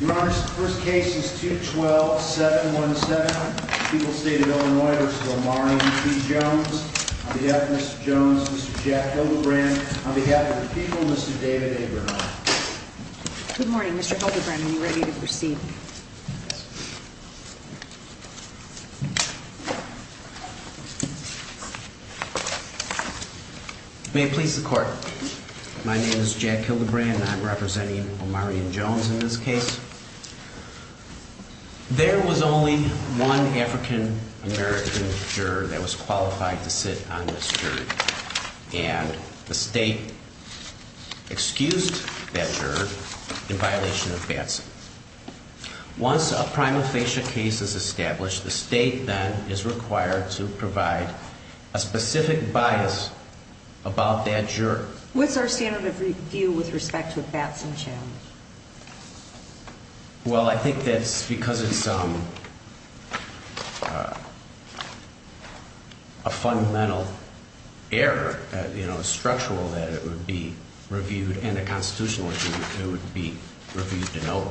Your Honor, the first case is 212-717, People's State of Illinois v. Omarion P. Jones. On behalf of Mr. Jones, Mr. Jack Hildebrand, on behalf of the people, Mr. David Abramoff. Good morning, Mr. Hildebrand. Are you ready to proceed? May it please the Court, my name is Jack Hildebrand and I'm representing Omarion Jones in this case. There was only one African-American juror that was qualified to sit on this jury. And the State excused that juror in violation of Batson. Once a prima facie case is established, the State then is required to provide a specific bias about that juror. What's our standard of review with respect to a Batson challenge? Well, I think that's because it's a fundamental error, you know, structural, that it would be reviewed and a constitutional review, it would be reviewed and over.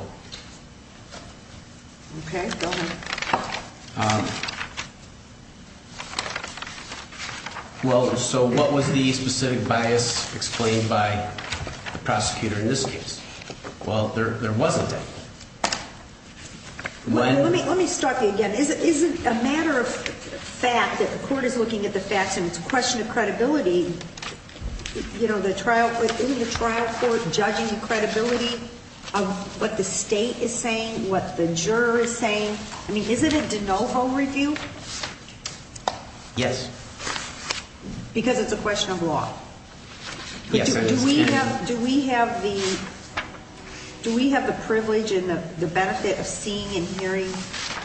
Okay, go ahead. Well, so what was the specific bias explained by the prosecutor in this case? Well, there wasn't. Let me start that again. Isn't a matter of fact that the Court is looking at the facts and it's a question of credibility, you know, the trial, isn't the trial court judging the credibility of what the State is saying, what the juror is saying? I mean, isn't it de novo review? Yes. Because it's a question of law. Yes, I understand. Do we have the privilege and the benefit of seeing and hearing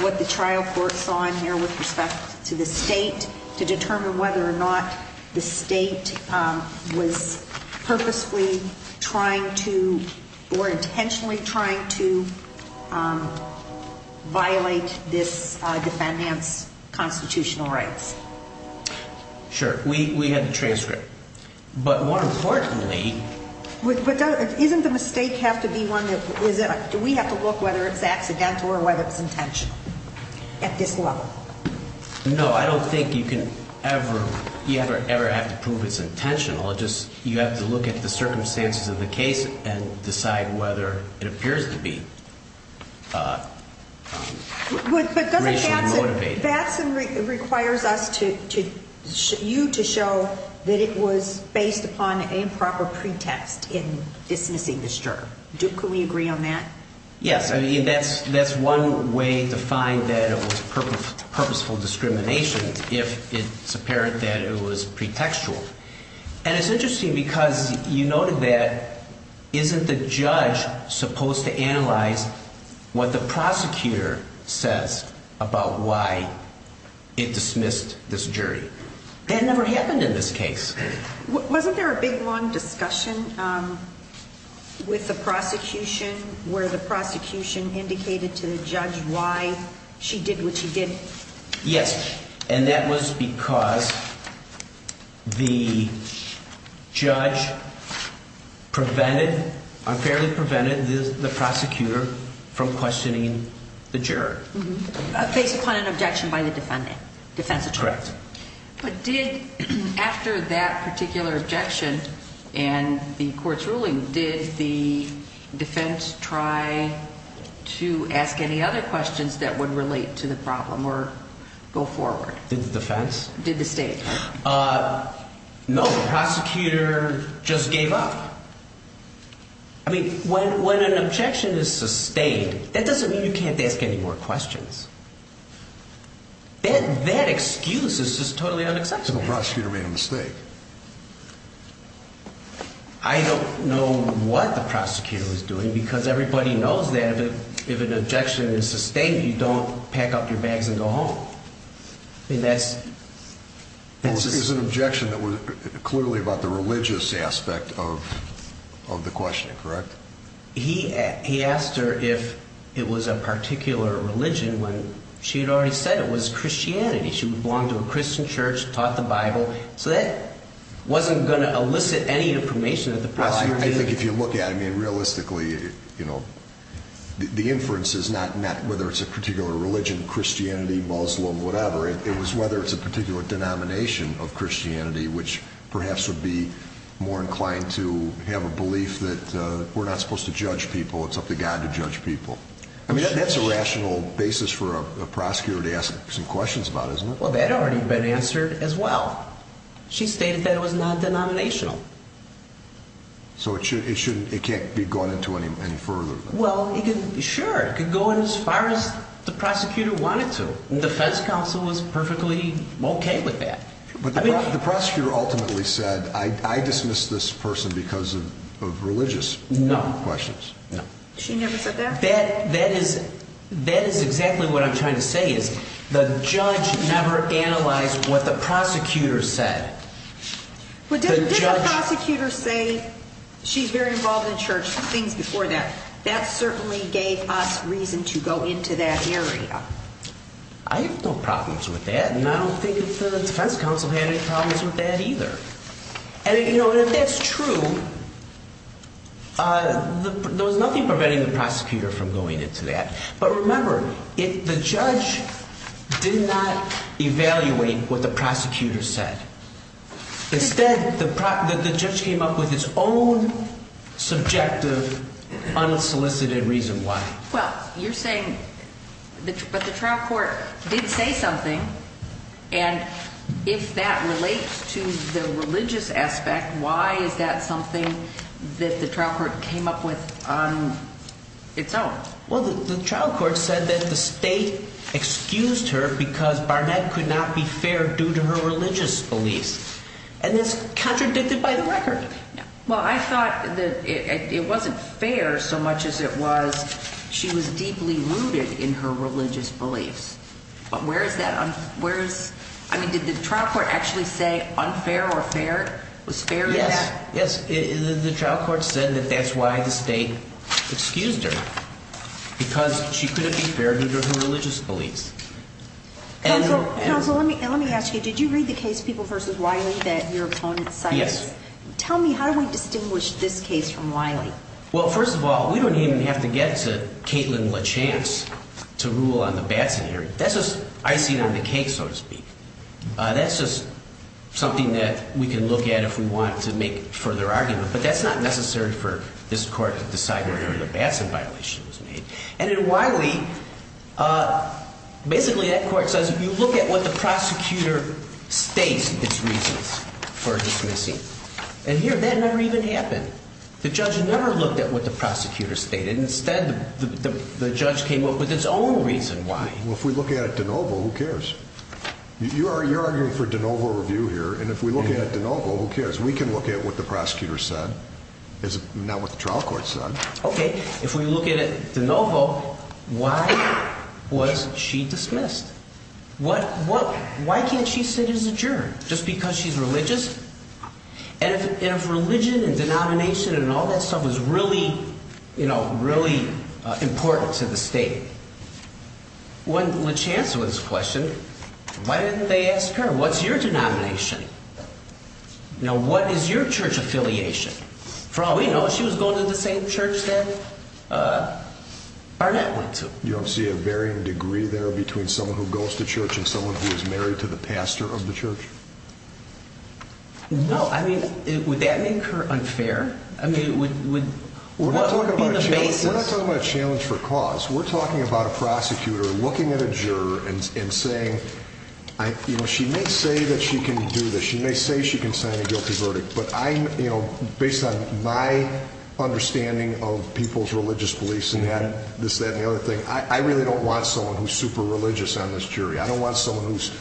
what the trial court saw in here with respect to the State to determine whether or not the State was purposely trying to or intentionally trying to violate this defendant's constitutional rights? Sure. We had a transcript. But more importantly... But doesn't the mistake have to be one that, do we have to look whether it's accidental or whether it's intentional at this level? No, I don't think you can ever, you ever, ever have to prove it's intentional. It just, you have to look at the circumstances of the case and decide whether it appears to be racially motivated. But doesn't Batson, Batson requires us to, you to show that it was based upon an improper pretext in dismissing this juror. Do, can we agree on that? Yes, I mean, that's one way to find that it was purposeful discrimination if it's apparent that it was pretextual. And it's interesting because you noted that, isn't the judge supposed to analyze what the prosecutor says about why it dismissed this jury? That never happened in this case. Wasn't there a big long discussion with the prosecution where the prosecution indicated to the judge why she did what she did? Yes, and that was because the judge prevented, unfairly prevented the prosecutor from questioning the juror. Based upon an objection by the defendant, defense attorney. Correct. But did, after that particular objection and the court's ruling, did the defense try to ask any other questions that would relate to the problem or go forward? Did the defense? Did the state? No, the prosecutor just gave up. I mean, when, when an objection is sustained, that doesn't mean you can't ask any more questions. That, that excuse is just totally unacceptable. The prosecutor made a mistake. I don't know what the prosecutor was doing because everybody knows that if an objection is sustained, you don't pack up your bags and go home. I mean, that's, that's just. It was an objection that was clearly about the religious aspect of, of the questioning, correct? He, he asked her if it was a particular religion when she had already said it was Christianity. She belonged to a Christian church, taught the Bible. So that wasn't going to elicit any information that the prosecutor gave. I think if you look at it, I mean, realistically, you know, the inference is not, not whether it's a particular religion, Christianity, Muslim, whatever. It was whether it's a particular denomination of Christianity, which perhaps would be more inclined to have a belief that we're not supposed to judge people. It's up to God to judge people. I mean, that's a rational basis for a prosecutor to ask some questions about, isn't it? Well, that had already been answered as well. She stated that it was not denominational. So it should, it shouldn't, it can't be gone into any, any further. Well, it could, sure, it could go in as far as the prosecutor wanted to. The defense counsel was perfectly okay with that. But the prosecutor ultimately said, I dismiss this person because of religious questions. No, no. She never said that? That, that is, that is exactly what I'm trying to say is the judge never analyzed what the prosecutor said. Well, didn't the prosecutor say she's very involved in church, some things before that. That certainly gave us reason to go into that area. I have no problems with that. And I don't think that the defense counsel had any problems with that either. And, you know, if that's true, there was nothing preventing the prosecutor from going into that. But remember, the judge did not evaluate what the prosecutor said. Instead, the judge came up with his own subjective, unsolicited reason why. Well, you're saying, but the trial court did say something. And if that relates to the religious aspect, why is that something that the trial court came up with on its own? Well, the trial court said that the state excused her because Barnett could not be fair due to her religious beliefs. And that's contradicted by the record. Well, I thought that it wasn't fair so much as it was she was deeply rooted in her religious beliefs. But where is that, where is, I mean, did the trial court actually say unfair or fair, was fair in that? Yes. The trial court said that that's why the state excused her, because she couldn't be fair due to her religious beliefs. Counsel, let me ask you, did you read the case, People v. Wiley, that your opponent cited? Yes. Tell me, how do we distinguish this case from Wiley? Well, first of all, we don't even have to get to Caitlin Lachance to rule on the bad scenario. That's just icing on the cake, so to speak. That's just something that we can look at if we want to make further argument. But that's not necessary for this court to decide whether or not a Batson violation was made. And in Wiley, basically that court says you look at what the prosecutor states its reasons for dismissing. And here, that never even happened. The judge never looked at what the prosecutor stated. Instead, the judge came up with its own reason why. Well, if we look at it de novo, who cares? You're arguing for de novo review here, and if we look at it de novo, who cares? We can look at what the prosecutor said, not what the trial court said. Okay. If we look at it de novo, why was she dismissed? Why can't she sit as adjourned? Just because she's religious? And if religion and denomination and all that stuff is really important to the state, when LaChance was questioned, why didn't they ask her, what's your denomination? Now, what is your church affiliation? For all we know, she was going to the same church that Barnett went to. You don't see a varying degree there between someone who goes to church and someone who is married to the pastor of the church? No. I mean, would that make her unfair? I mean, what would be the basis? We're not talking about a challenge for cause. We're talking about a prosecutor looking at a juror and saying, you know, she may say that she can do this, she may say she can sign a guilty verdict, but I'm, you know, based on my understanding of people's religious beliefs and this, that, and the other thing, I really don't want someone who's super religious on this jury. I don't want someone who's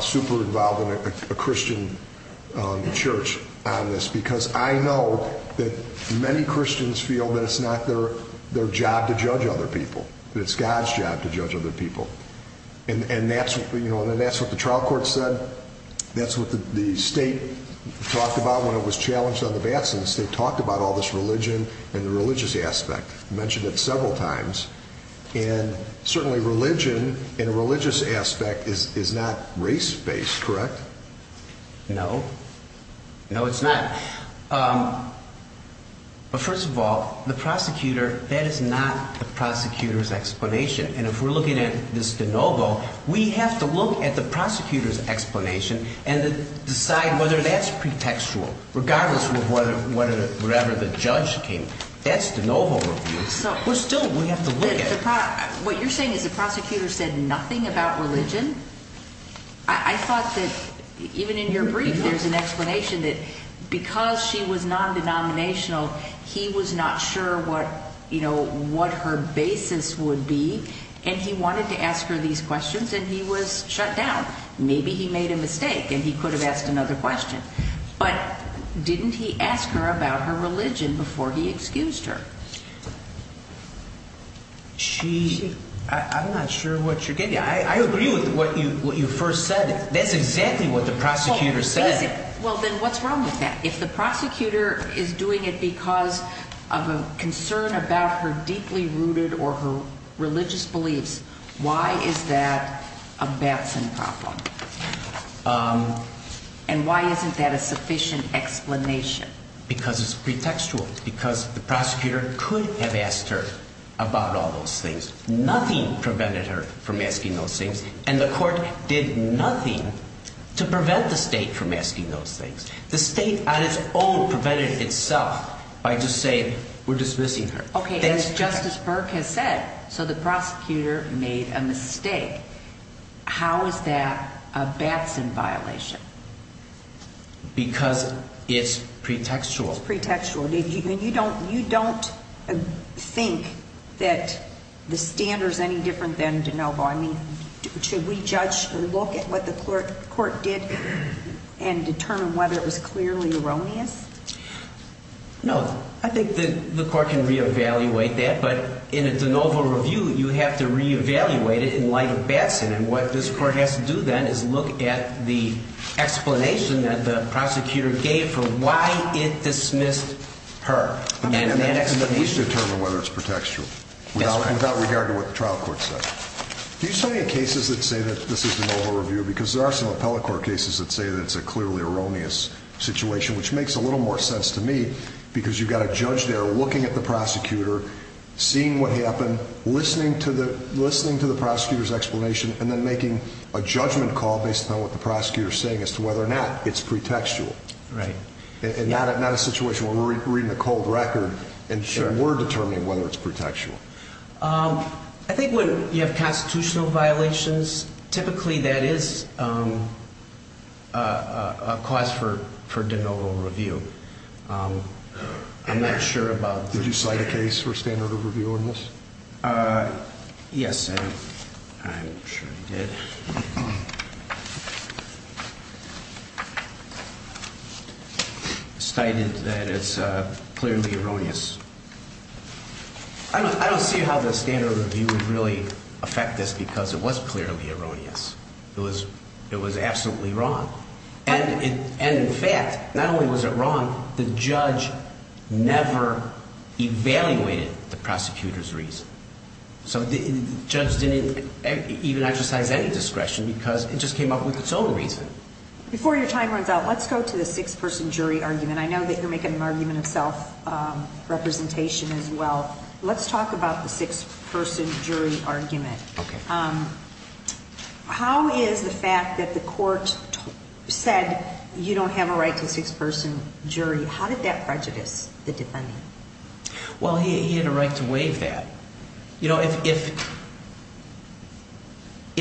super involved in a Christian church on this, because I know that many Christians feel that it's not their job to judge other people, that it's God's job to judge other people. And that's what the trial court said. That's what the state talked about when it was challenged on the Batson. The state talked about all this religion and the religious aspect. It mentioned it several times. And certainly religion and a religious aspect is not race-based, correct? No. No, it's not. But first of all, the prosecutor, that is not the prosecutor's explanation. And if we're looking at this de novo, we have to look at the prosecutor's explanation and decide whether that's pretextual, regardless of whether, wherever the judge came. That's de novo review. We're still, we have to look at it. What you're saying is the prosecutor said nothing about religion? I thought that even in your brief, there's an explanation that because she was non-denominational, he was not sure what her basis would be, and he wanted to ask her these questions, and he was shut down. Maybe he made a mistake and he could have asked another question. But didn't he ask her about her religion before he excused her? I'm not sure what you're getting at. I agree with what you first said. That's exactly what the prosecutor said. Well, then what's wrong with that? If the prosecutor is doing it because of a concern about her deeply rooted or her religious beliefs, why is that a Batson problem? And why isn't that a sufficient explanation? Because it's pretextual. Because the prosecutor could have asked her about all those things. Nothing prevented her from asking those things, and the court did nothing to prevent the state from asking those things. The state on its own prevented itself by just saying, we're dismissing her. Okay, and as Justice Burke has said, so the prosecutor made a mistake. How is that a Batson violation? Because it's pretextual. It's pretextual. And you don't think that the standard is any different than DeNovo. I mean, should we judge or look at what the court did and determine whether it was clearly erroneous? No, I think the court can reevaluate that. But in a DeNovo review, you have to reevaluate it in light of Batson. And what this court has to do, then, is look at the explanation that the prosecutor gave for why it dismissed her. And that explanation. We should determine whether it's pretextual without regard to what the trial court said. Do you see any cases that say that this is DeNovo review? Because there are some appellate court cases that say that it's a clearly erroneous situation, which makes a little more sense to me. Because you've got a judge there looking at the prosecutor, seeing what happened, listening to the prosecutor's explanation, and then making a judgment call based on what the prosecutor is saying as to whether or not it's pretextual. Right. And not a situation where we're reading a cold record and we're determining whether it's pretextual. I think when you have constitutional violations, typically that is a cause for DeNovo review. I'm not sure about the... Did you cite a case for standard of review on this? Yes, I'm sure I did. Cited that it's clearly erroneous. I don't see how the standard of review would really affect this because it was clearly erroneous. It was absolutely wrong. And in fact, not only was it wrong, the judge never evaluated the prosecutor's reason. So the judge didn't even exercise any discretion because it just came up with its own reason. Before your time runs out, let's go to the six-person jury argument. And I know that you're making an argument of self-representation as well. Let's talk about the six-person jury argument. Okay. How is the fact that the court said you don't have a right to a six-person jury, how did that prejudice the defendant? Well, he had a right to waive that. You know, if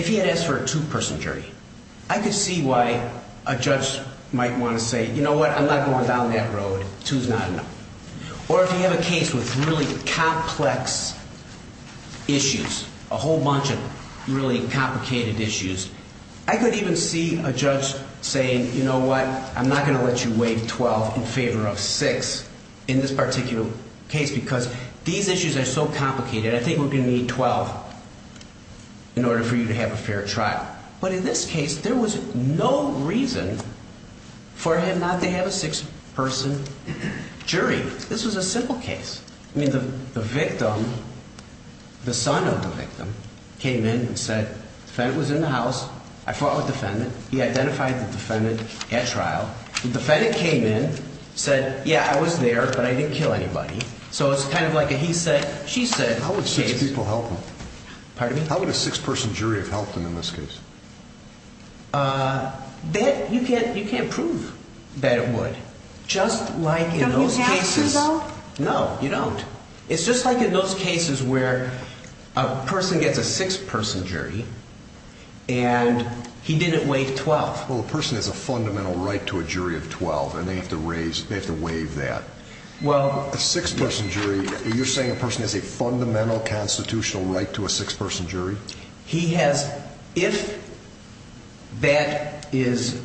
he had asked for a two-person jury, I could see why a judge might want to say, you know what, I'm not going down that road. Two's not enough. Or if you have a case with really complex issues, a whole bunch of really complicated issues, I could even see a judge saying, you know what, I'm not going to let you waive 12 in favor of 6 in this particular case because these issues are so complicated. I think we're going to need 12 in order for you to have a fair trial. But in this case, there was no reason for him not to have a six-person jury. This was a simple case. I mean, the victim, the son of the victim came in and said the defendant was in the house. I fought with the defendant. He identified the defendant at trial. The defendant came in, said, yeah, I was there, but I didn't kill anybody. So it's kind of like a he said, she said case. How would six people help him? Pardon me? How would a six-person jury have helped him in this case? You can't prove that it would. Just like in those cases. Don't you have to, though? No, you don't. It's just like in those cases where a person gets a six-person jury and he didn't waive 12. Well, a person has a fundamental right to a jury of 12, and they have to raise, they have to waive that. A six-person jury, you're saying a person has a fundamental constitutional right to a six-person jury? He has, if that is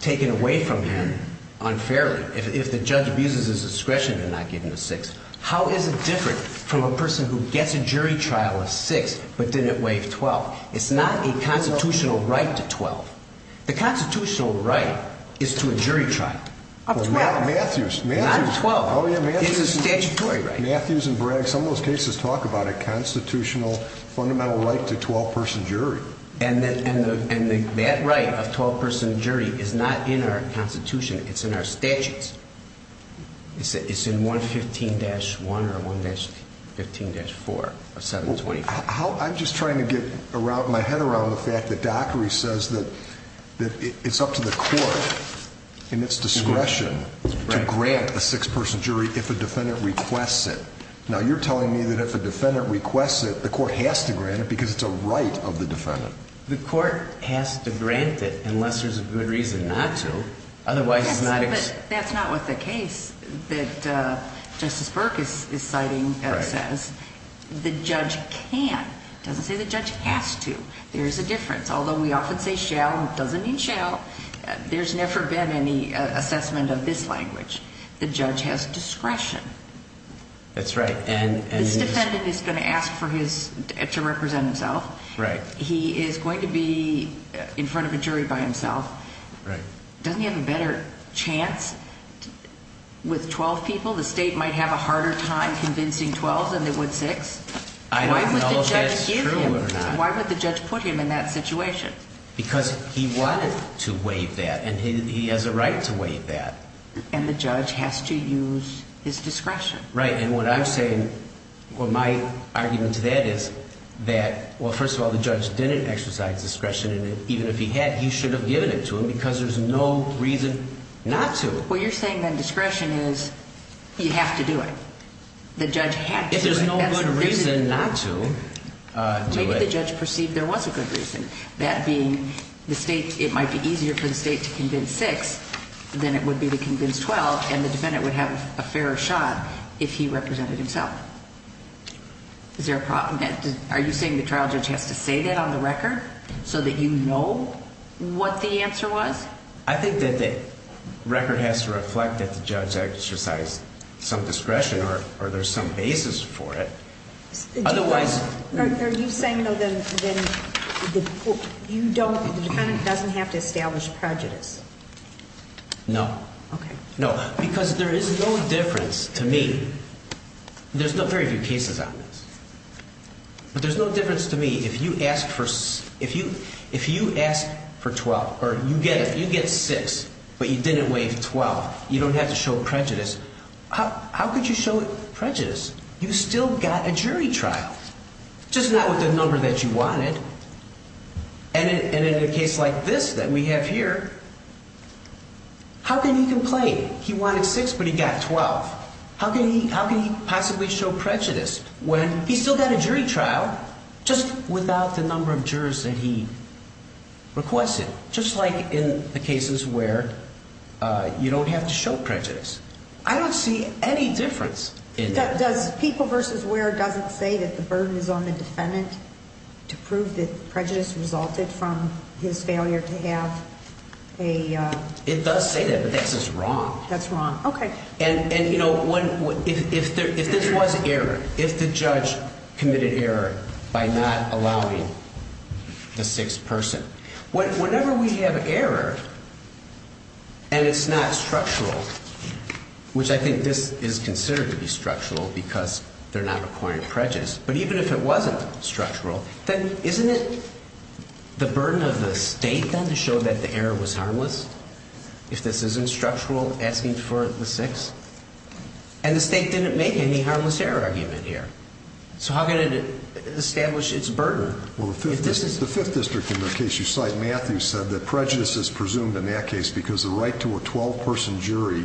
taken away from him unfairly, if the judge abuses his discretion to not give him a six, how is it different from a person who gets a jury trial of six but didn't waive 12? It's not a constitutional right to 12. The constitutional right is to a jury trial of 12. Well, Matthews. Not 12. Oh, yeah, Matthews. It's a statutory right. Matthews and Bragg, some of those cases talk about a constitutional fundamental right to a 12-person jury. And that right of a 12-person jury is not in our Constitution. It's in our statutes. It's in 115-1 or 115-4 or 725. I'm just trying to get my head around the fact that Dockery says that it's up to the court in its discretion to grant a six-person jury if a defendant requests it. Now, you're telling me that if a defendant requests it, the court has to grant it because it's a right of the defendant. The court has to grant it unless there's a good reason not to. That's not what the case that Justice Burke is citing says. The judge can. It doesn't say the judge has to. There's a difference. Although we often say shall, it doesn't mean shall. There's never been any assessment of this language. The judge has discretion. That's right. And this defendant is going to ask to represent himself. He is going to be in front of a jury by himself. Right. Doesn't he have a better chance with 12 people? The state might have a harder time convincing 12 than it would six. I don't know if that's true or not. Why would the judge put him in that situation? Because he wanted to waive that, and he has a right to waive that. And the judge has to use his discretion. Right. And what I'm saying, what my argument to that is that, well, first of all, the judge didn't exercise discretion. Even if he had, he should have given it to him because there's no reason not to. Well, you're saying that discretion is you have to do it. The judge had to. If there's no good reason not to do it. Maybe the judge perceived there was a good reason. That being the state, it might be easier for the state to convince six than it would be to convince 12, and the defendant would have a fairer shot if he represented himself. Is there a problem? Are you saying the trial judge has to say that on the record so that you know what the answer was? I think that the record has to reflect that the judge exercised some discretion or there's some basis for it. Are you saying, though, that the defendant doesn't have to establish prejudice? No. Okay. No, because there is no difference to me. There's very few cases on this. But there's no difference to me. If you ask for 12 or you get it, you get six, but you didn't waive 12, you don't have to show prejudice. How could you show prejudice? You still got a jury trial, just not with the number that you wanted. And in a case like this that we have here, how can he complain? He wanted six, but he got 12. How can he possibly show prejudice when he still got a jury trial just without the number of jurors that he requested, just like in the cases where you don't have to show prejudice? I don't see any difference in that. Does people versus where doesn't say that the burden is on the defendant to prove that prejudice resulted from his failure to have a? It does say that, but that's just wrong. That's wrong. Okay. And, you know, if this was error, if the judge committed error by not allowing the sixth person, whenever we have error and it's not structural, which I think this is considered to be structural because they're not requiring prejudice, but even if it wasn't structural, then isn't it the burden of the state then to show that the error was harmless? If this isn't structural, asking for the sixth. And the state didn't make any harmless error argument here. So how can it establish its burden? Well, the fifth district in the case you cite, Matthew, said that prejudice is presumed in that case because the right to a 12-person jury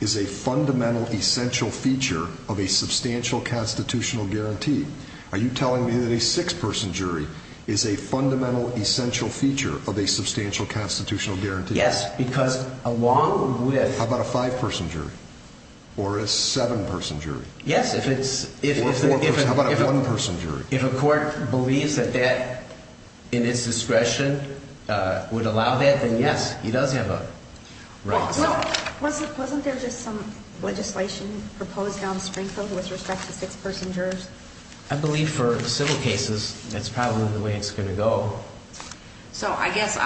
is a fundamental essential feature of a substantial constitutional guarantee. Are you telling me that a six-person jury is a fundamental essential feature of a substantial constitutional guarantee? Yes, because along with... How about a five-person jury or a seven-person jury? Yes, if it's... Or a four-person... How about a one-person jury? If a court believes that that in its discretion would allow that, then yes, he does have a right. Well, wasn't there just some legislation proposed on Springfield with respect to six-person jurors? I believe for civil cases that's probably the way it's going to go. So I guess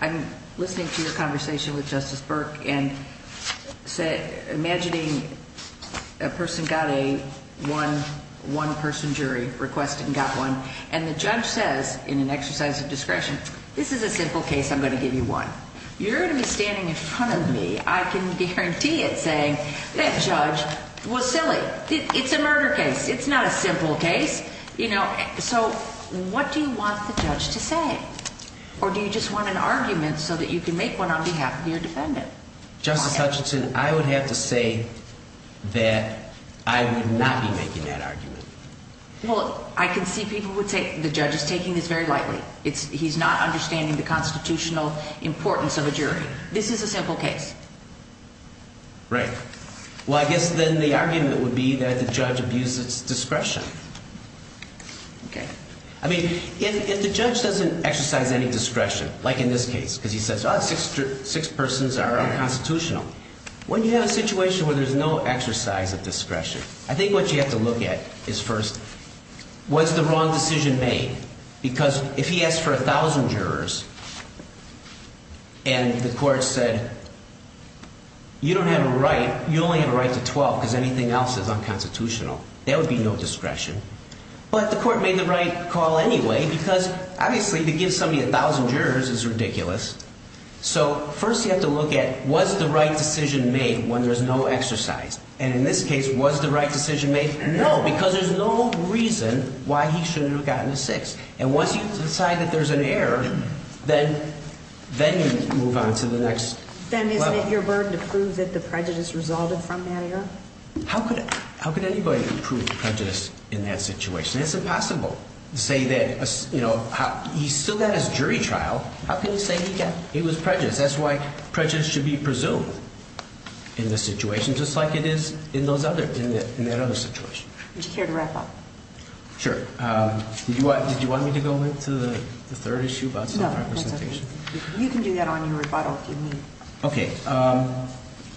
I'm listening to your conversation with Justice Burke and imagining a person got a one-person jury request and got one, and the judge says in an exercise of discretion, this is a simple case, I'm going to give you one. You're going to be standing in front of me, I can guarantee it, saying that judge was silly. It's a murder case. It's not a simple case. So what do you want the judge to say? Or do you just want an argument so that you can make one on behalf of your defendant? Justice Hutchinson, I would have to say that I would not be making that argument. Well, I can see people would say the judge is taking this very lightly. He's not understanding the constitutional importance of a jury. This is a simple case. Right. Well, I guess then the argument would be that the judge abuses discretion. Okay. I mean, if the judge doesn't exercise any discretion, like in this case, because he says six persons are unconstitutional, when you have a situation where there's no exercise of discretion, I think what you have to look at is first what's the wrong decision made? Because if he asked for 1,000 jurors and the court said you don't have a right, you only have a right to 12 because anything else is unconstitutional. There would be no discretion. But the court made the right call anyway because, obviously, to give somebody 1,000 jurors is ridiculous. So first you have to look at was the right decision made when there's no exercise? And in this case, was the right decision made? No, because there's no reason why he shouldn't have gotten a six. And once you decide that there's an error, then you move on to the next level. Then isn't it your burden to prove that the prejudice resulted from that error? How could anybody prove prejudice in that situation? It's impossible to say that, you know, he still got his jury trial. How can you say he was prejudiced? That's why prejudice should be presumed in this situation just like it is in that other situation. Would you care to wrap up? Sure. Did you want me to go into the third issue about self-representation? No, that's okay. You can do that on your rebuttal if you need. Okay.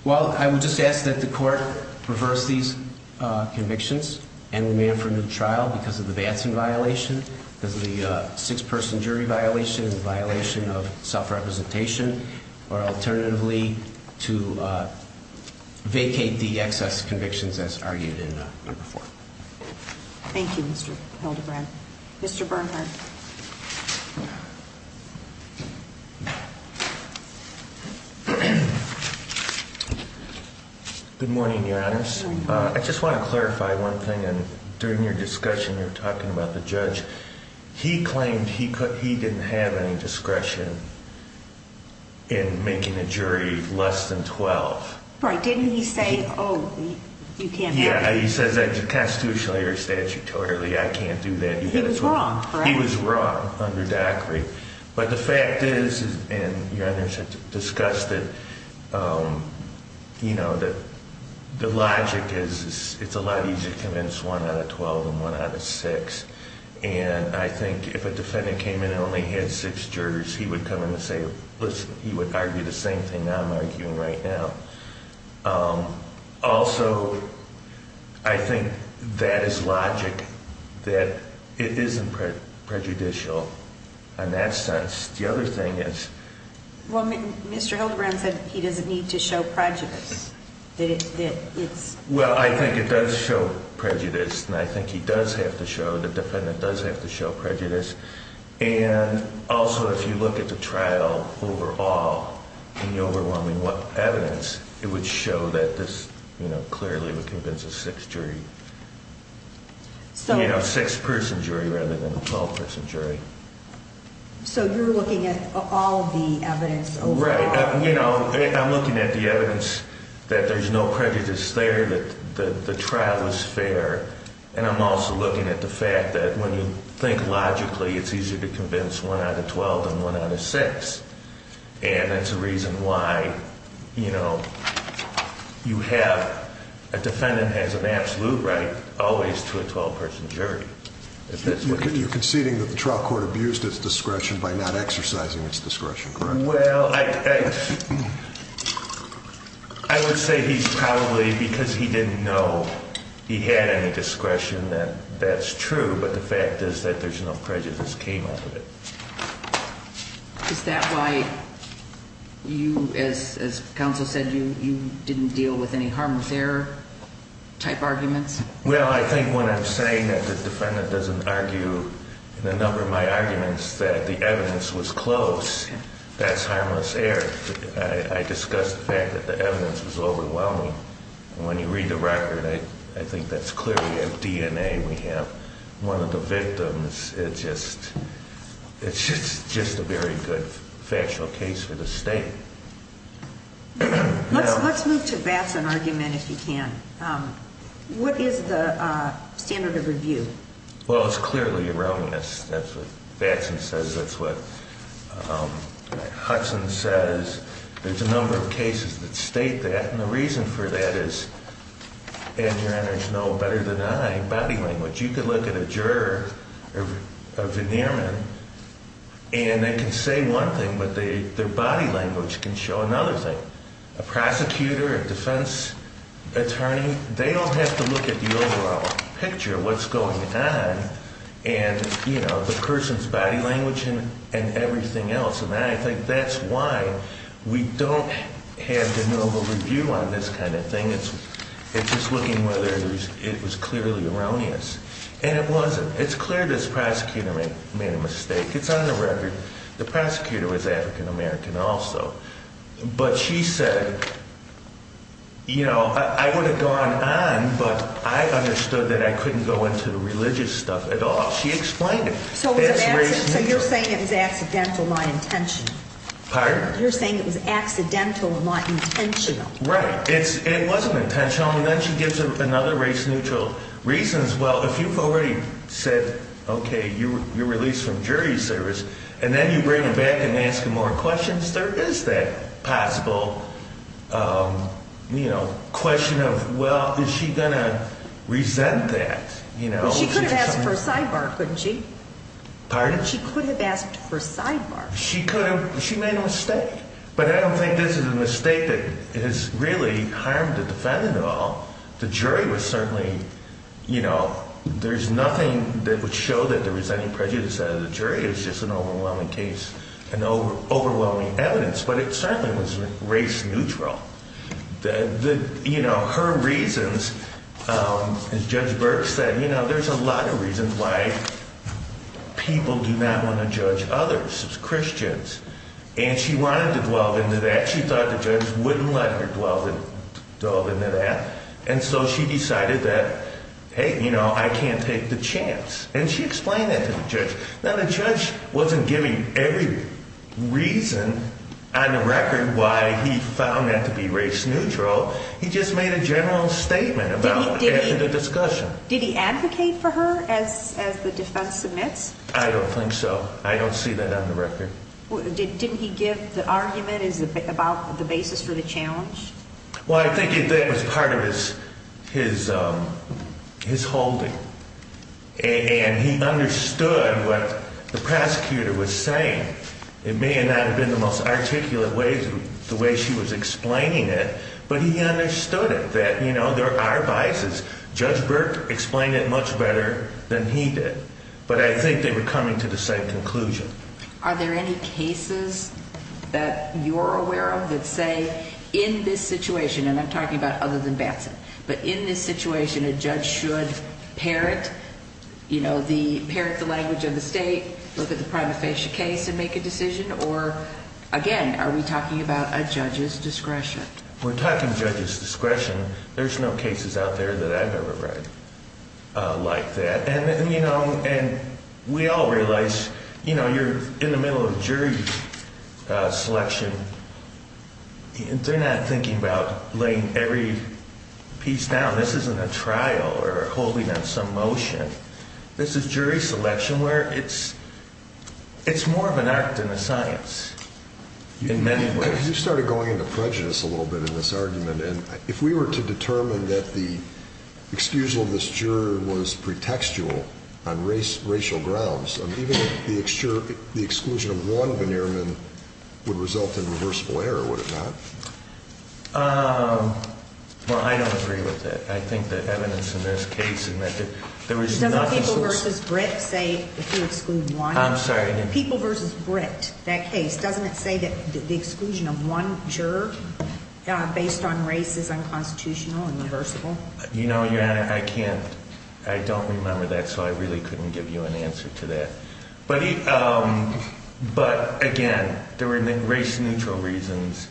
Well, I would just ask that the court reverse these convictions and remand for a new trial because of the Batson violation, because of the six-person jury violation, the violation of self-representation, or alternatively to vacate the excess convictions as argued in number four. Thank you, Mr. Hildebrandt. Mr. Bernhardt. Good morning, Your Honors. Good morning. I just want to clarify one thing. During your discussion, you were talking about the judge. He claimed he didn't have any discretion in making a jury less than 12. Right. Didn't he say, oh, you can't have it? Yeah, he says that constitutionally or statutorily, I can't do that. He was wrong, correct? He was wrong under DACRI. But the fact is, and Your Honors have discussed it, you know, that the logic is it's a lot easier to convince one out of 12 than one out of six. And I think if a defendant came in and only had six jurors, he would come in and say, listen, he would argue the same thing that I'm arguing right now. Also, I think that is logic, that it isn't prejudicial in that sense. The other thing is. Well, Mr. Hildebrandt said he doesn't need to show prejudice, that it's. Well, I think it does show prejudice. And I think he does have to show, the defendant does have to show prejudice. And also, if you look at the trial overall and the overwhelming evidence, it would show that this clearly would convince a six jury. You know, a six-person jury rather than a 12-person jury. So you're looking at all of the evidence overall? Right. You know, I'm looking at the evidence that there's no prejudice there, that the trial was fair. And I'm also looking at the fact that when you think logically, it's easier to convince one out of 12 than one out of six. And that's a reason why, you know, you have, a defendant has an absolute right always to a 12-person jury. You're conceding that the trial court abused its discretion by not exercising its discretion, correct? Well, I would say he's probably, because he didn't know he had any discretion, that that's true. But the fact is that there's no prejudice that came out of it. Is that why you, as counsel said, you didn't deal with any harmless error type arguments? Well, I think when I'm saying that the defendant doesn't argue in a number of my arguments that the evidence was close, that's harmless error. I discussed the fact that the evidence was overwhelming. And when you read the record, I think that's clearly a DNA we have. One of the victims, it's just a very good factual case for the state. Let's move to Bassan argument, if you can. What is the standard of review? Well, it's clearly erroneous. That's what Bassan says. That's what Hudson says. There's a number of cases that state that. And the reason for that is, as your honors know better than I, body language. You can look at a juror, a veneer man, and they can say one thing, but their body language can show another thing. A prosecutor, a defense attorney, they don't have to look at the overall picture, what's going on, and the person's body language and everything else. And I think that's why we don't have the normal review on this kind of thing. It's just looking whether it was clearly erroneous. And it wasn't. It's clear this prosecutor made a mistake. It's on the record. The prosecutor was African-American also. But she said, you know, I would have gone on, but I understood that I couldn't go into the religious stuff at all. She explained it. So you're saying it was accidental, not intentional? Pardon? You're saying it was accidental, not intentional? Right. It wasn't intentional. And then she gives another race-neutral reasons. Well, if you've already said, okay, you're released from jury service, and then you bring her back and ask her more questions, there is that possible, you know, question of, well, is she going to resent that, you know? She could have asked for a sidebar, couldn't she? Pardon? She could have asked for a sidebar. She could have. She made a mistake. But I don't think this is a mistake that has really harmed the defendant at all. The jury was certainly, you know, there's nothing that would show that there was any prejudice out of the jury. It was just an overwhelming case and overwhelming evidence. But it certainly was race-neutral. You know, her reasons, as Judge Burke said, you know, there's a lot of reasons why people do not want to judge others as Christians. And she wanted to dwell into that. And she thought the judge wouldn't let her dwell into that. And so she decided that, hey, you know, I can't take the chance. And she explained that to the judge. Now, the judge wasn't giving every reason on the record why he found that to be race-neutral. He just made a general statement about it in the discussion. Did he advocate for her as the defense submits? I don't think so. I don't see that on the record. Didn't he give the argument about the basis for the challenge? Well, I think that was part of his holding. And he understood what the prosecutor was saying. It may not have been the most articulate way, the way she was explaining it, but he understood it, that, you know, there are biases. Judge Burke explained it much better than he did. But I think they were coming to the same conclusion. Are there any cases that you're aware of that say in this situation, and I'm talking about other than Batson, but in this situation a judge should parent, you know, parent the language of the state, look at the prima facie case and make a decision, or, again, are we talking about a judge's discretion? We're talking judge's discretion. There's no cases out there that I've ever read like that. And we all realize, you know, you're in the middle of a jury selection. They're not thinking about laying every piece down. This isn't a trial or holding on some motion. This is jury selection where it's more of an art than a science in many ways. You started going into prejudice a little bit in this argument. And if we were to determine that the exclusion of this juror was pretextual on racial grounds, even if the exclusion of one veneerman would result in reversible error, would it not? Well, I don't agree with that. I think the evidence in this case had meant that there was not a source. Doesn't People v. Britt say if you exclude one? I'm sorry. People v. Britt, that case, doesn't it say that the exclusion of one juror based on race is unconstitutional and reversible? You know, Your Honor, I can't. I don't remember that, so I really couldn't give you an answer to that. But, again, there were race-neutral reasons.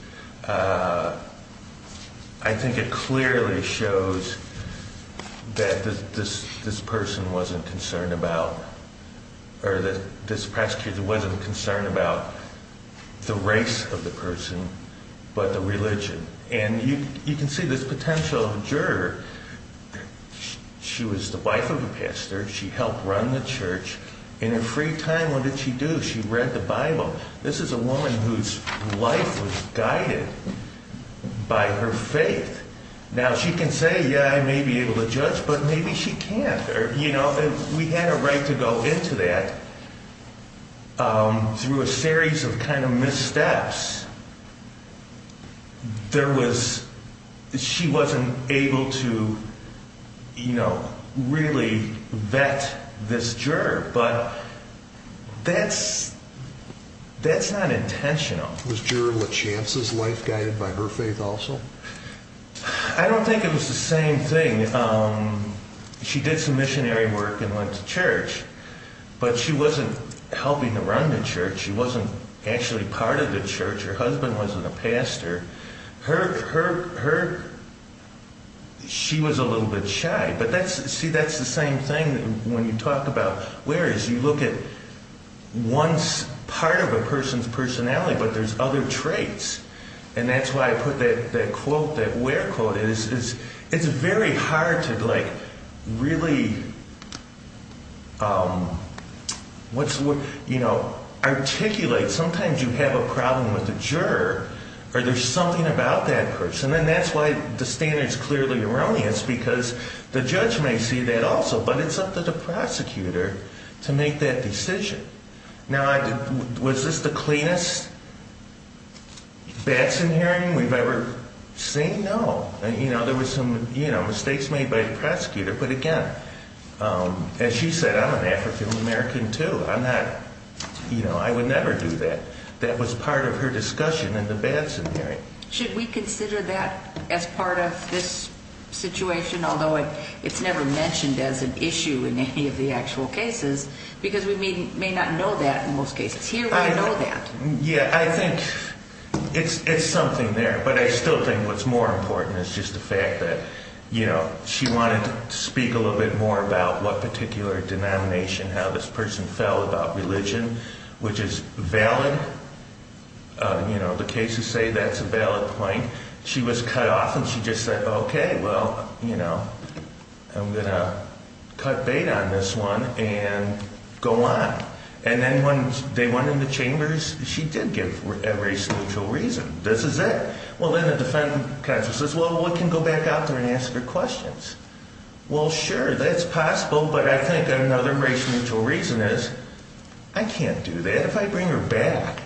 I think it clearly shows that this person wasn't concerned about or that this prosecutor wasn't concerned about the race of the person but the religion. And you can see this potential juror. She helped run the church. In her free time, what did she do? She read the Bible. This is a woman whose life was guided by her faith. Now, she can say, yeah, I may be able to judge, but maybe she can't. You know, we had a right to go into that through a series of kind of missteps. She wasn't able to, you know, really vet this juror, but that's not intentional. Was Juror LaChance's life guided by her faith also? I don't think it was the same thing. She did some missionary work and went to church, but she wasn't helping to run the church. She wasn't actually part of the church. Her husband wasn't a pastor. She was a little bit shy. But, see, that's the same thing when you talk about whereas. You look at one part of a person's personality, but there's other traits. And that's why I put that quote, that where quote. It's very hard to, like, really, you know, articulate. Sometimes you have a problem with the juror, or there's something about that person. And that's why the standard's clearly erroneous, because the judge may see that also. But it's up to the prosecutor to make that decision. Now, was this the cleanest Batson hearing we've ever seen? No. You know, there were some, you know, mistakes made by the prosecutor. But, again, as she said, I'm an African-American, too. I'm not, you know, I would never do that. That was part of her discussion in the Batson hearing. Should we consider that as part of this situation, although it's never mentioned as an issue in any of the actual cases, because we may not know that in most cases. Here, we know that. Yeah, I think it's something there. But I still think what's more important is just the fact that, you know, she wanted to speak a little bit more about what particular denomination, how this person felt about religion, which is valid. You know, the cases say that's a valid point. She was cut off, and she just said, okay, well, you know, I'm going to cut bait on this one. And go on. And then when they went in the chambers, she did give a race-neutral reason. This is it. Well, then the defendant kind of says, well, we can go back out there and ask her questions. Well, sure, that's possible. But I think another race-neutral reason is I can't do that if I bring her back.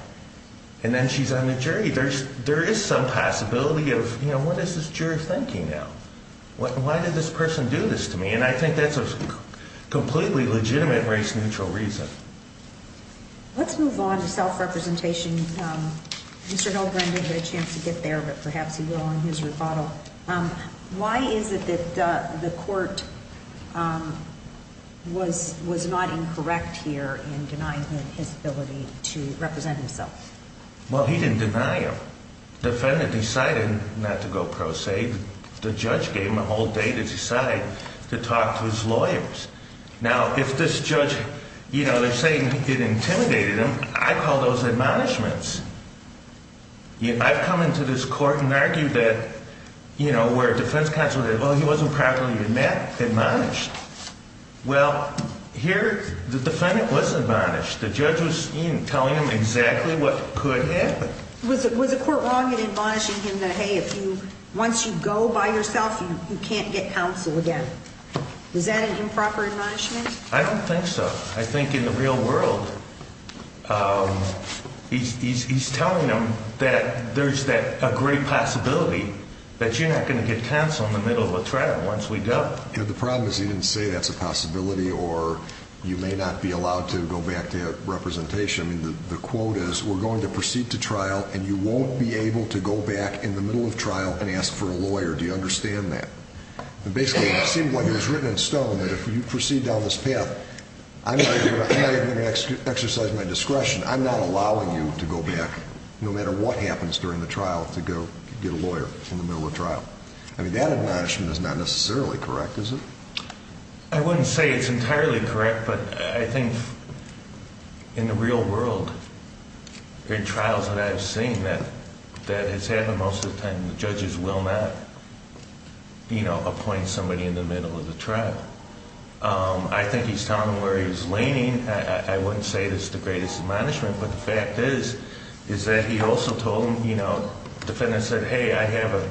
And then she's on the jury. There is some possibility of, you know, what is this jury thinking now? Why did this person do this to me? And I think that's a completely legitimate race-neutral reason. Let's move on to self-representation. Mr. Hillbrenner had a chance to get there, but perhaps he will in his rebuttal. Why is it that the court was not incorrect here in denying him his ability to represent himself? Well, he didn't deny him. The defendant decided not to go pro se. The judge gave him a whole day to decide, to talk to his lawyers. Now, if this judge, you know, they're saying it intimidated him, I call those admonishments. I've come into this court and argued that, you know, where a defense counsel said, well, he wasn't properly admonished. Well, here the defendant was admonished. The judge was telling him exactly what could happen. Was the court wrong in admonishing him that, hey, once you go by yourself, you can't get counsel again? Was that an improper admonishment? I don't think so. I think in the real world he's telling them that there's a great possibility that you're not going to get counsel in the middle of a trial once we go. The problem is he didn't say that's a possibility or you may not be allowed to go back to representation. I mean, the quote is we're going to proceed to trial and you won't be able to go back in the middle of trial and ask for a lawyer. Do you understand that? Basically, it seemed like it was written in stone that if you proceed down this path, I'm not even going to exercise my discretion. I'm not allowing you to go back no matter what happens during the trial to go get a lawyer in the middle of trial. I mean, that admonishment is not necessarily correct, is it? I wouldn't say it's entirely correct, but I think in the real world, in trials that I've seen, that has happened most of the time, the judges will not appoint somebody in the middle of the trial. I think he's telling them where he's leaning. I wouldn't say it's the greatest admonishment, but the fact is, is that he also told them, you know, the defendant said, hey, I have a,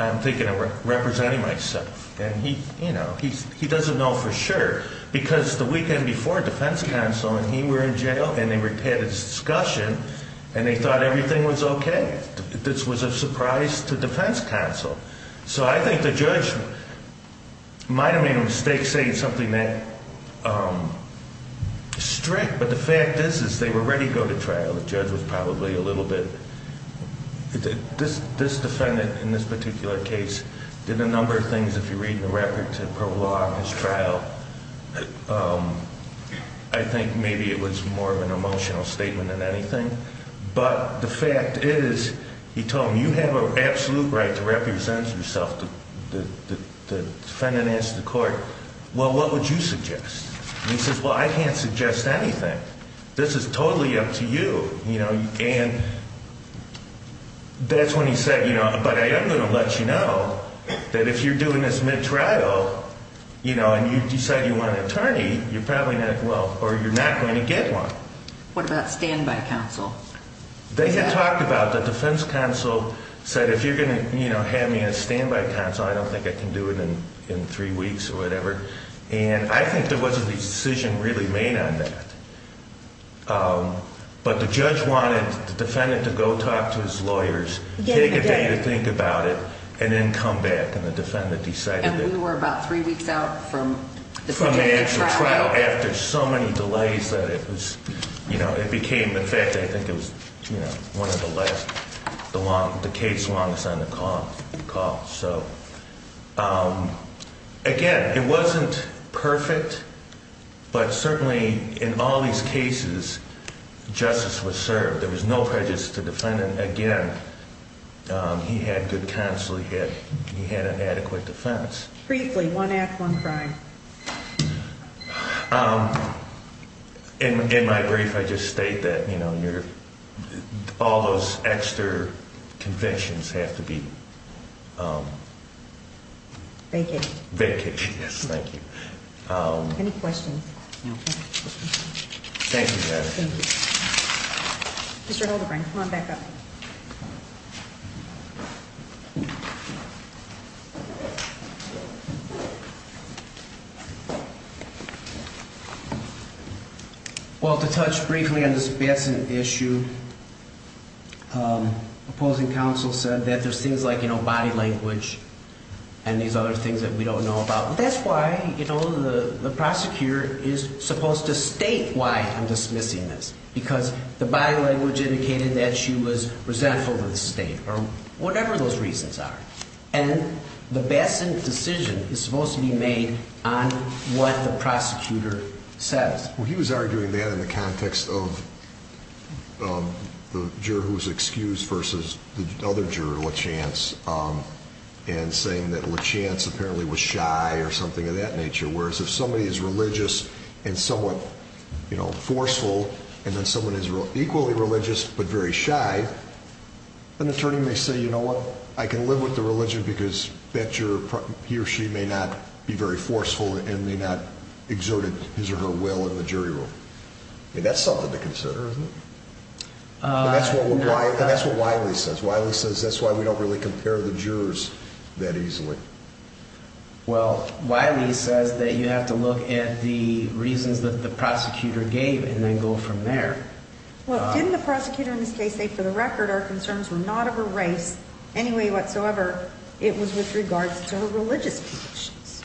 I'm thinking of representing myself. And he, you know, he doesn't know for sure because the weekend before defense counsel and he were in jail and they had this discussion and they thought everything was okay. This was a surprise to defense counsel. So I think the judge might have made a mistake saying something that strict, but the fact is, is they were ready to go to trial. The judge was probably a little bit. This defendant in this particular case did a number of things. If you read the record to prologue his trial, I think maybe it was more of an emotional statement than anything. But the fact is, he told him, you have an absolute right to represent yourself. The defendant asked the court, well, what would you suggest? He says, well, I can't suggest anything. This is totally up to you. You know, and that's when he said, you know, but I am going to let you know that if you're doing this mid-trial, you know, and you decide you want an attorney, you're probably not, well, or you're not going to get one. What about standby counsel? They had talked about the defense counsel said, if you're going to, you know, have me on standby counsel, I don't think I can do it in three weeks or whatever. And I think there wasn't a decision really made on that. But the judge wanted the defendant to go talk to his lawyers, take a day to think about it, and then come back. And the defendant decided. And we were about three weeks out from the trial. After so many delays that it was, you know, it became the fact that I think it was, you know, one of the last, the case longest on the call. So, again, it wasn't perfect, but certainly in all these cases, justice was served. There was no prejudice to the defendant. Again, he had good counsel. He had an adequate defense. Briefly, one act, one crime. In my brief, I just state that, you know, all those extra convictions have to be vacant. Yes, thank you. Any questions? No. Thank you, ma'am. Thank you. Mr. Hildebrand, come on back up. Well, to touch briefly on this Batson issue, opposing counsel said that there's things like, you know, body language and these other things that we don't know about. That's why, you know, the prosecutor is supposed to state why I'm dismissing this, because the body language indicated that she was resentful of the state or whatever those reasons are. And the Batson decision is supposed to be made on what the prosecutor says. Well, he was arguing that in the context of the juror who was excused versus the other juror, LaChance, and saying that LaChance apparently was shy or something of that nature, whereas if somebody is religious and somewhat, you know, forceful, and then someone is equally religious but very shy, an attorney may say, you know what, I can live with the religion because he or she may not be very forceful and may not exert his or her will in the jury room. I mean, that's something to consider, isn't it? And that's what Wiley says. Wiley says that's why we don't really compare the jurors that easily. Well, Wiley says that you have to look at the reasons that the prosecutor gave and then go from there. Well, didn't the prosecutor in this case say, for the record, our concerns were not of her race anyway whatsoever. It was with regards to her religious convictions.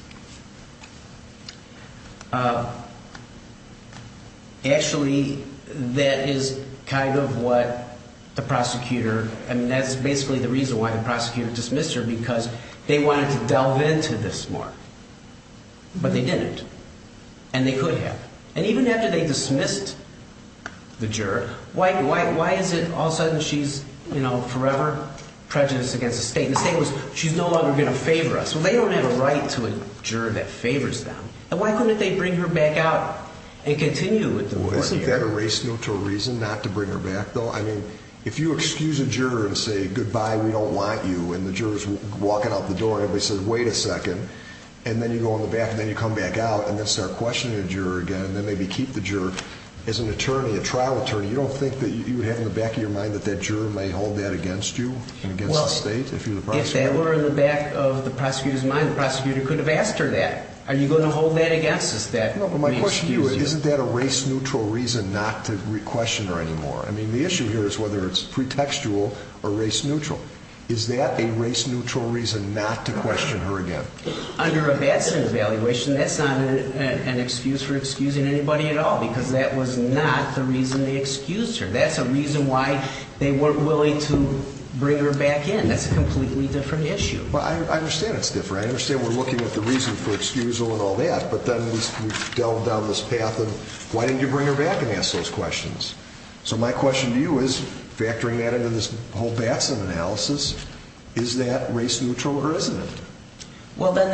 Actually, that is kind of what the prosecutor, I mean, that's basically the reason why the prosecutor dismissed her, because they wanted to delve into this more, but they didn't, and they could have. And even after they dismissed the juror, why is it all of a sudden she's, you know, forever prejudiced against the state? And the state was, she's no longer going to favor us. Well, they don't have a right to a juror that favors them. And why couldn't they bring her back out and continue with the court hearing? Well, isn't that a race no to a reason not to bring her back, though? I mean, if you excuse a juror and say, goodbye, we don't want you, and the juror's walking out the door and everybody says, wait a second, and then you go in the back and then you come back out and then start questioning the juror again and then maybe keep the juror, as an attorney, a trial attorney, you don't think that you would have in the back of your mind that that juror may hold that against you and against the state? If that were in the back of the prosecutor's mind, the prosecutor could have asked her that. Are you going to hold that against us, that we excuse you? No, but my question to you is, isn't that a race-neutral reason not to question her anymore? I mean, the issue here is whether it's pretextual or race-neutral. Is that a race-neutral reason not to question her again? Under a Batson evaluation, that's not an excuse for excusing anybody at all, because that was not the reason they excused her. That's a reason why they weren't willing to bring her back in. That's a completely different issue. Well, I understand it's different. I understand we're looking at the reason for excusal and all that, but then we've delved down this path of, why didn't you bring her back and ask those questions? So my question to you is, factoring that into this whole Batson analysis, is that race-neutral or isn't it? Well, then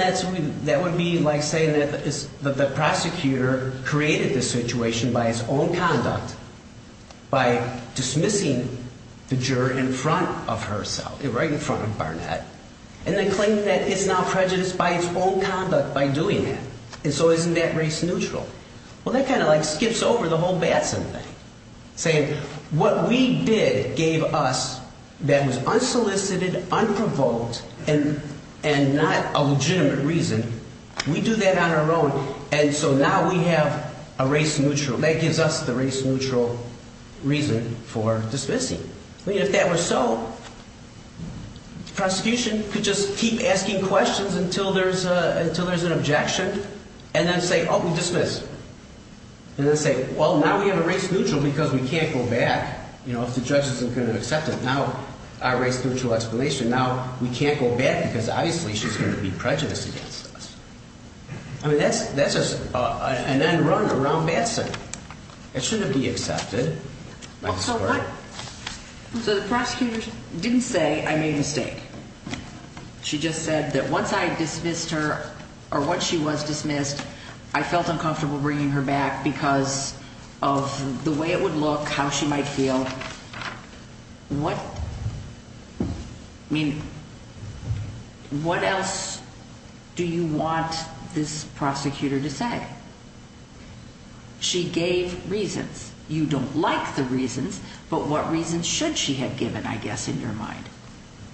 that would be like saying that the prosecutor created this situation by its own conduct, by dismissing the juror in front of herself, right in front of Barnett, and then claiming that it's now prejudiced by its own conduct by doing that. And so isn't that race-neutral? Well, that kind of like skips over the whole Batson thing, saying what we did gave us that was unsolicited, unprovoked, and not a legitimate reason. We do that on our own, and so now we have a race-neutral. That gives us the race-neutral reason for dismissing. I mean, if that were so, prosecution could just keep asking questions until there's an objection, and then say, oh, we dismiss. And then say, well, now we have a race-neutral because we can't go back. You know, if the judge isn't going to accept it, now our race-neutral explanation, now we can't go back because obviously she's going to be prejudiced against us. I mean, that's just an end run around Batson. It shouldn't be accepted. So the prosecutor didn't say, I made a mistake. She just said that once I dismissed her, or once she was dismissed, I felt uncomfortable bringing her back because of the way it would look, how she might feel. What else do you want this prosecutor to say? She gave reasons. You don't like the reasons, but what reasons should she have given, I guess, in your mind?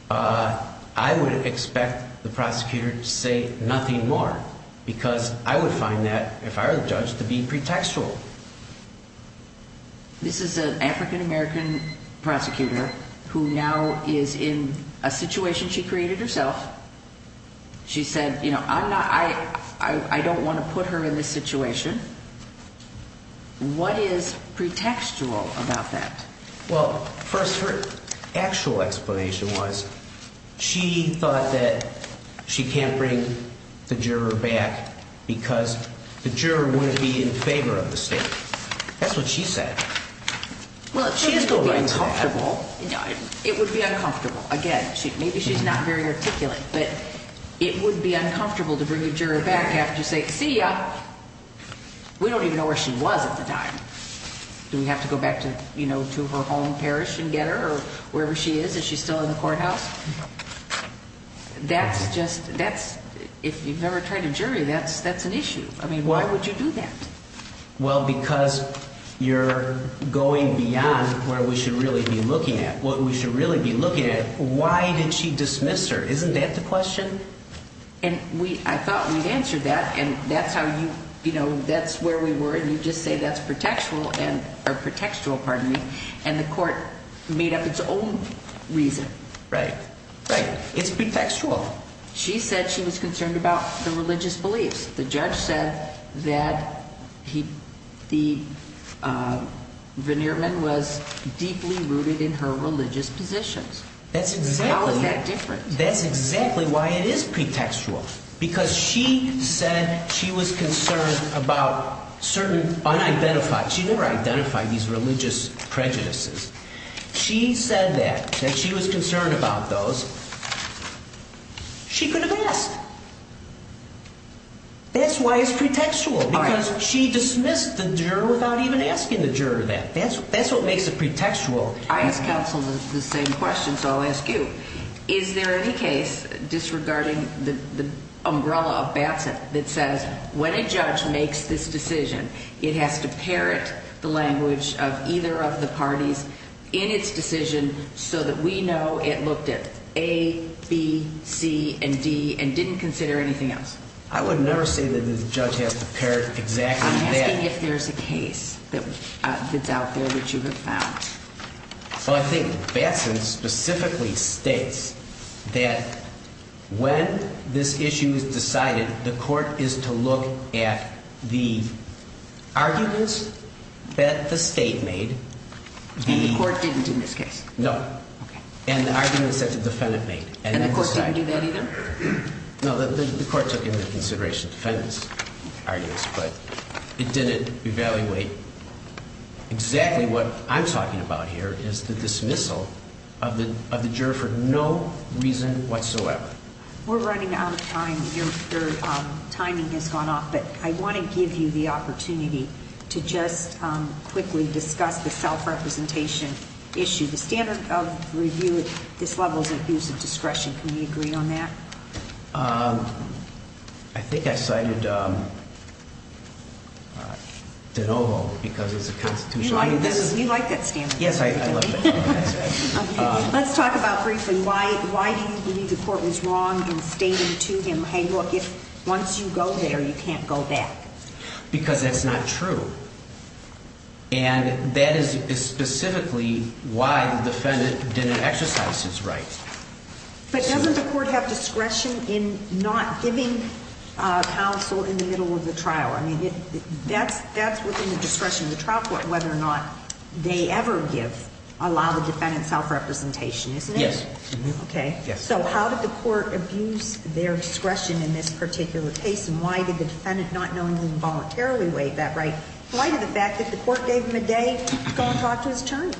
I would expect the prosecutor to say nothing more because I would find that, if I were the judge, to be pretextual. This is an African-American prosecutor who now is in a situation she created herself. She said, you know, I don't want to put her in this situation. What is pretextual about that? Well, first, her actual explanation was she thought that she can't bring the juror back because the juror wouldn't be in favor of the state. That's what she said. Well, if she is going to be uncomfortable, it would be uncomfortable. Again, maybe she's not very articulate, but it would be uncomfortable to bring a juror back after you say, see ya. We don't even know where she was at the time. Do we have to go back to her home parish and get her or wherever she is? Is she still in the courthouse? That's just, if you've never tried a jury, that's an issue. I mean, why would you do that? Well, because you're going beyond where we should really be looking at. What we should really be looking at, why did she dismiss her? Isn't that the question? I thought we'd answered that, and that's where we were, and you just say that's pretextual, and the court made up its own reason. Right. Right. It's pretextual. She said she was concerned about the religious beliefs. The judge said that the veneer man was deeply rooted in her religious positions. How is that different? That's exactly why it is pretextual, because she said she was concerned about certain unidentified. She never identified these religious prejudices. She said that, that she was concerned about those. She could have asked. That's why it's pretextual, because she dismissed the juror without even asking the juror that. That's what makes it pretextual. I asked counsel the same question, so I'll ask you. Is there any case disregarding the umbrella of Batson that says when a judge makes this decision, it has to parrot the language of either of the parties in its decision so that we know it looked at A, B, C, and D and didn't consider anything else? I would never say that the judge has to parrot exactly that. I'm asking if there's a case that's out there that you have found. Well, I think Batson specifically states that when this issue is decided, the court is to look at the arguments that the state made. And the court didn't in this case? No. Okay. And the arguments that the defendant made. And the court didn't do that either? No, the court took into consideration the defendant's arguments, but it didn't evaluate exactly what I'm talking about here, is the dismissal of the juror for no reason whatsoever. We're running out of time. Your timing has gone off, but I want to give you the opportunity to just quickly discuss the self-representation issue. The standard of review at this level is abuse of discretion. Can we agree on that? I think I cited de novo because it's a constitutional issue. You like that standard of review, don't you? Yes, I love it. Let's talk about briefly why do you believe the court was wrong in stating to him, hey, look, once you go there, you can't go back? Because that's not true. And that is specifically why the defendant didn't exercise his rights. But doesn't the court have discretion in not giving counsel in the middle of the trial? I mean, that's within the discretion of the trial court whether or not they ever give, allow the defendant self-representation, isn't it? Yes. Okay. So how did the court abuse their discretion in this particular case? And why did the defendant not knowingly involuntarily waive that right? Why did the fact that the court gave him a day go and talk to his attorney?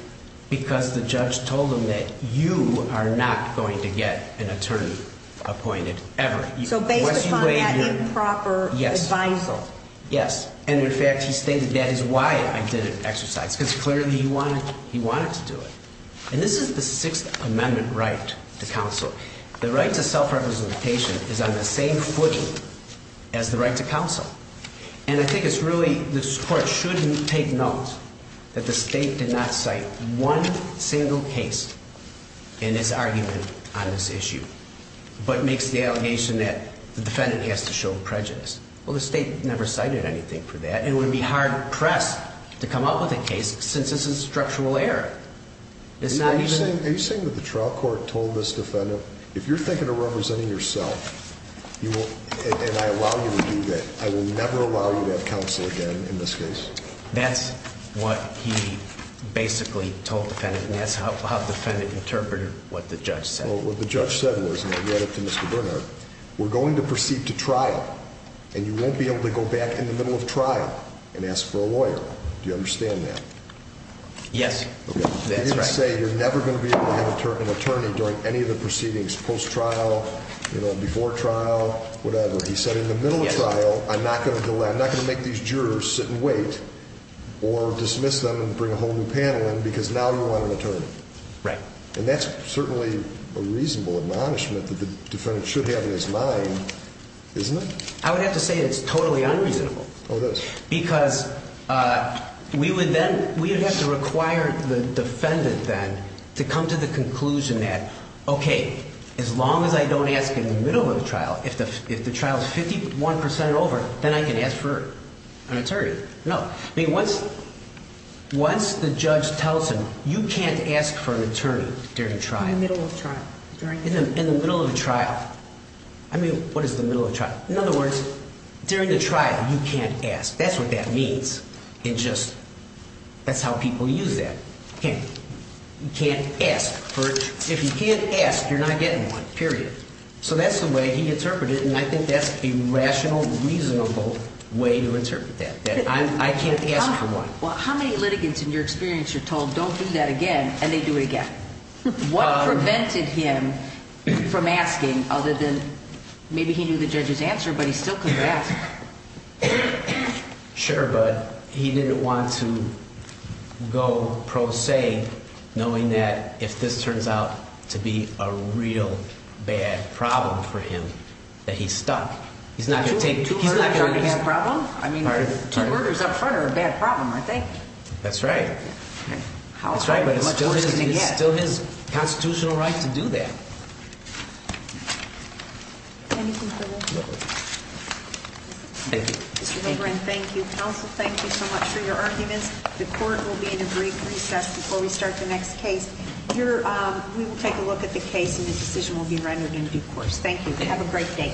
Because the judge told him that you are not going to get an attorney appointed ever. So based upon that improper advisal. Yes. And, in fact, he stated that is why I didn't exercise. Because clearly he wanted to do it. And this is the Sixth Amendment right to counsel. The right to self-representation is on the same footing as the right to counsel. And I think it's really this court shouldn't take note that the state did not cite one single case in its argument on this issue. But makes the allegation that the defendant has to show prejudice. Well, the state never cited anything for that. And it would be hard pressed to come up with a case since it's a structural error. Are you saying that the trial court told this defendant, if you're thinking of representing yourself. And I allow you to do that. I will never allow you to have counsel again in this case. That's what he basically told the defendant. And that's how the defendant interpreted what the judge said. Well, what the judge said was, and I'll get up to Mr. Bernhardt. We're going to proceed to trial. And you won't be able to go back in the middle of trial and ask for a lawyer. Do you understand that? Yes. That's right. You didn't say you're never going to be able to have an attorney during any of the proceedings, post trial, before trial, whatever. He said in the middle of trial, I'm not going to make these jurors sit and wait or dismiss them and bring a whole new panel in because now you want an attorney. Right. And that's certainly a reasonable admonishment that the defendant should have in his mind, isn't it? I would have to say it's totally unreasonable. Oh, it is? Because we would then, we would have to require the defendant then to come to the conclusion that, okay, as long as I don't ask in the middle of the trial, if the trial is 51% over, then I can ask for an attorney. No. I mean, once the judge tells him, you can't ask for an attorney during trial. In the middle of trial. In the middle of trial. I mean, what is the middle of trial? In other words, during the trial, you can't ask. That's what that means. It just, that's how people use that. You can't ask. If you can't ask, you're not getting one, period. So that's the way he interpreted it, and I think that's a rational, reasonable way to interpret that, that I can't ask for one. Well, how many litigants in your experience are told, don't do that again, and they do it again? What prevented him from asking, other than, maybe he knew the judge's answer, but he still couldn't ask? Sure, but he didn't want to go pro se, knowing that if this turns out to be a real bad problem for him, that he's stuck. He's not going to take, he's not going to. Two murders aren't a bad problem? I mean, two murders up front are a bad problem, aren't they? That's right. That's right, but it's still his constitutional right to do that. Anything further? No. Thank you. Mr. Legrand, thank you. Counsel, thank you so much for your arguments. The court will be in a brief recess before we start the next case. We will take a look at the case, and the decision will be rendered in due course. Thank you. Have a great day.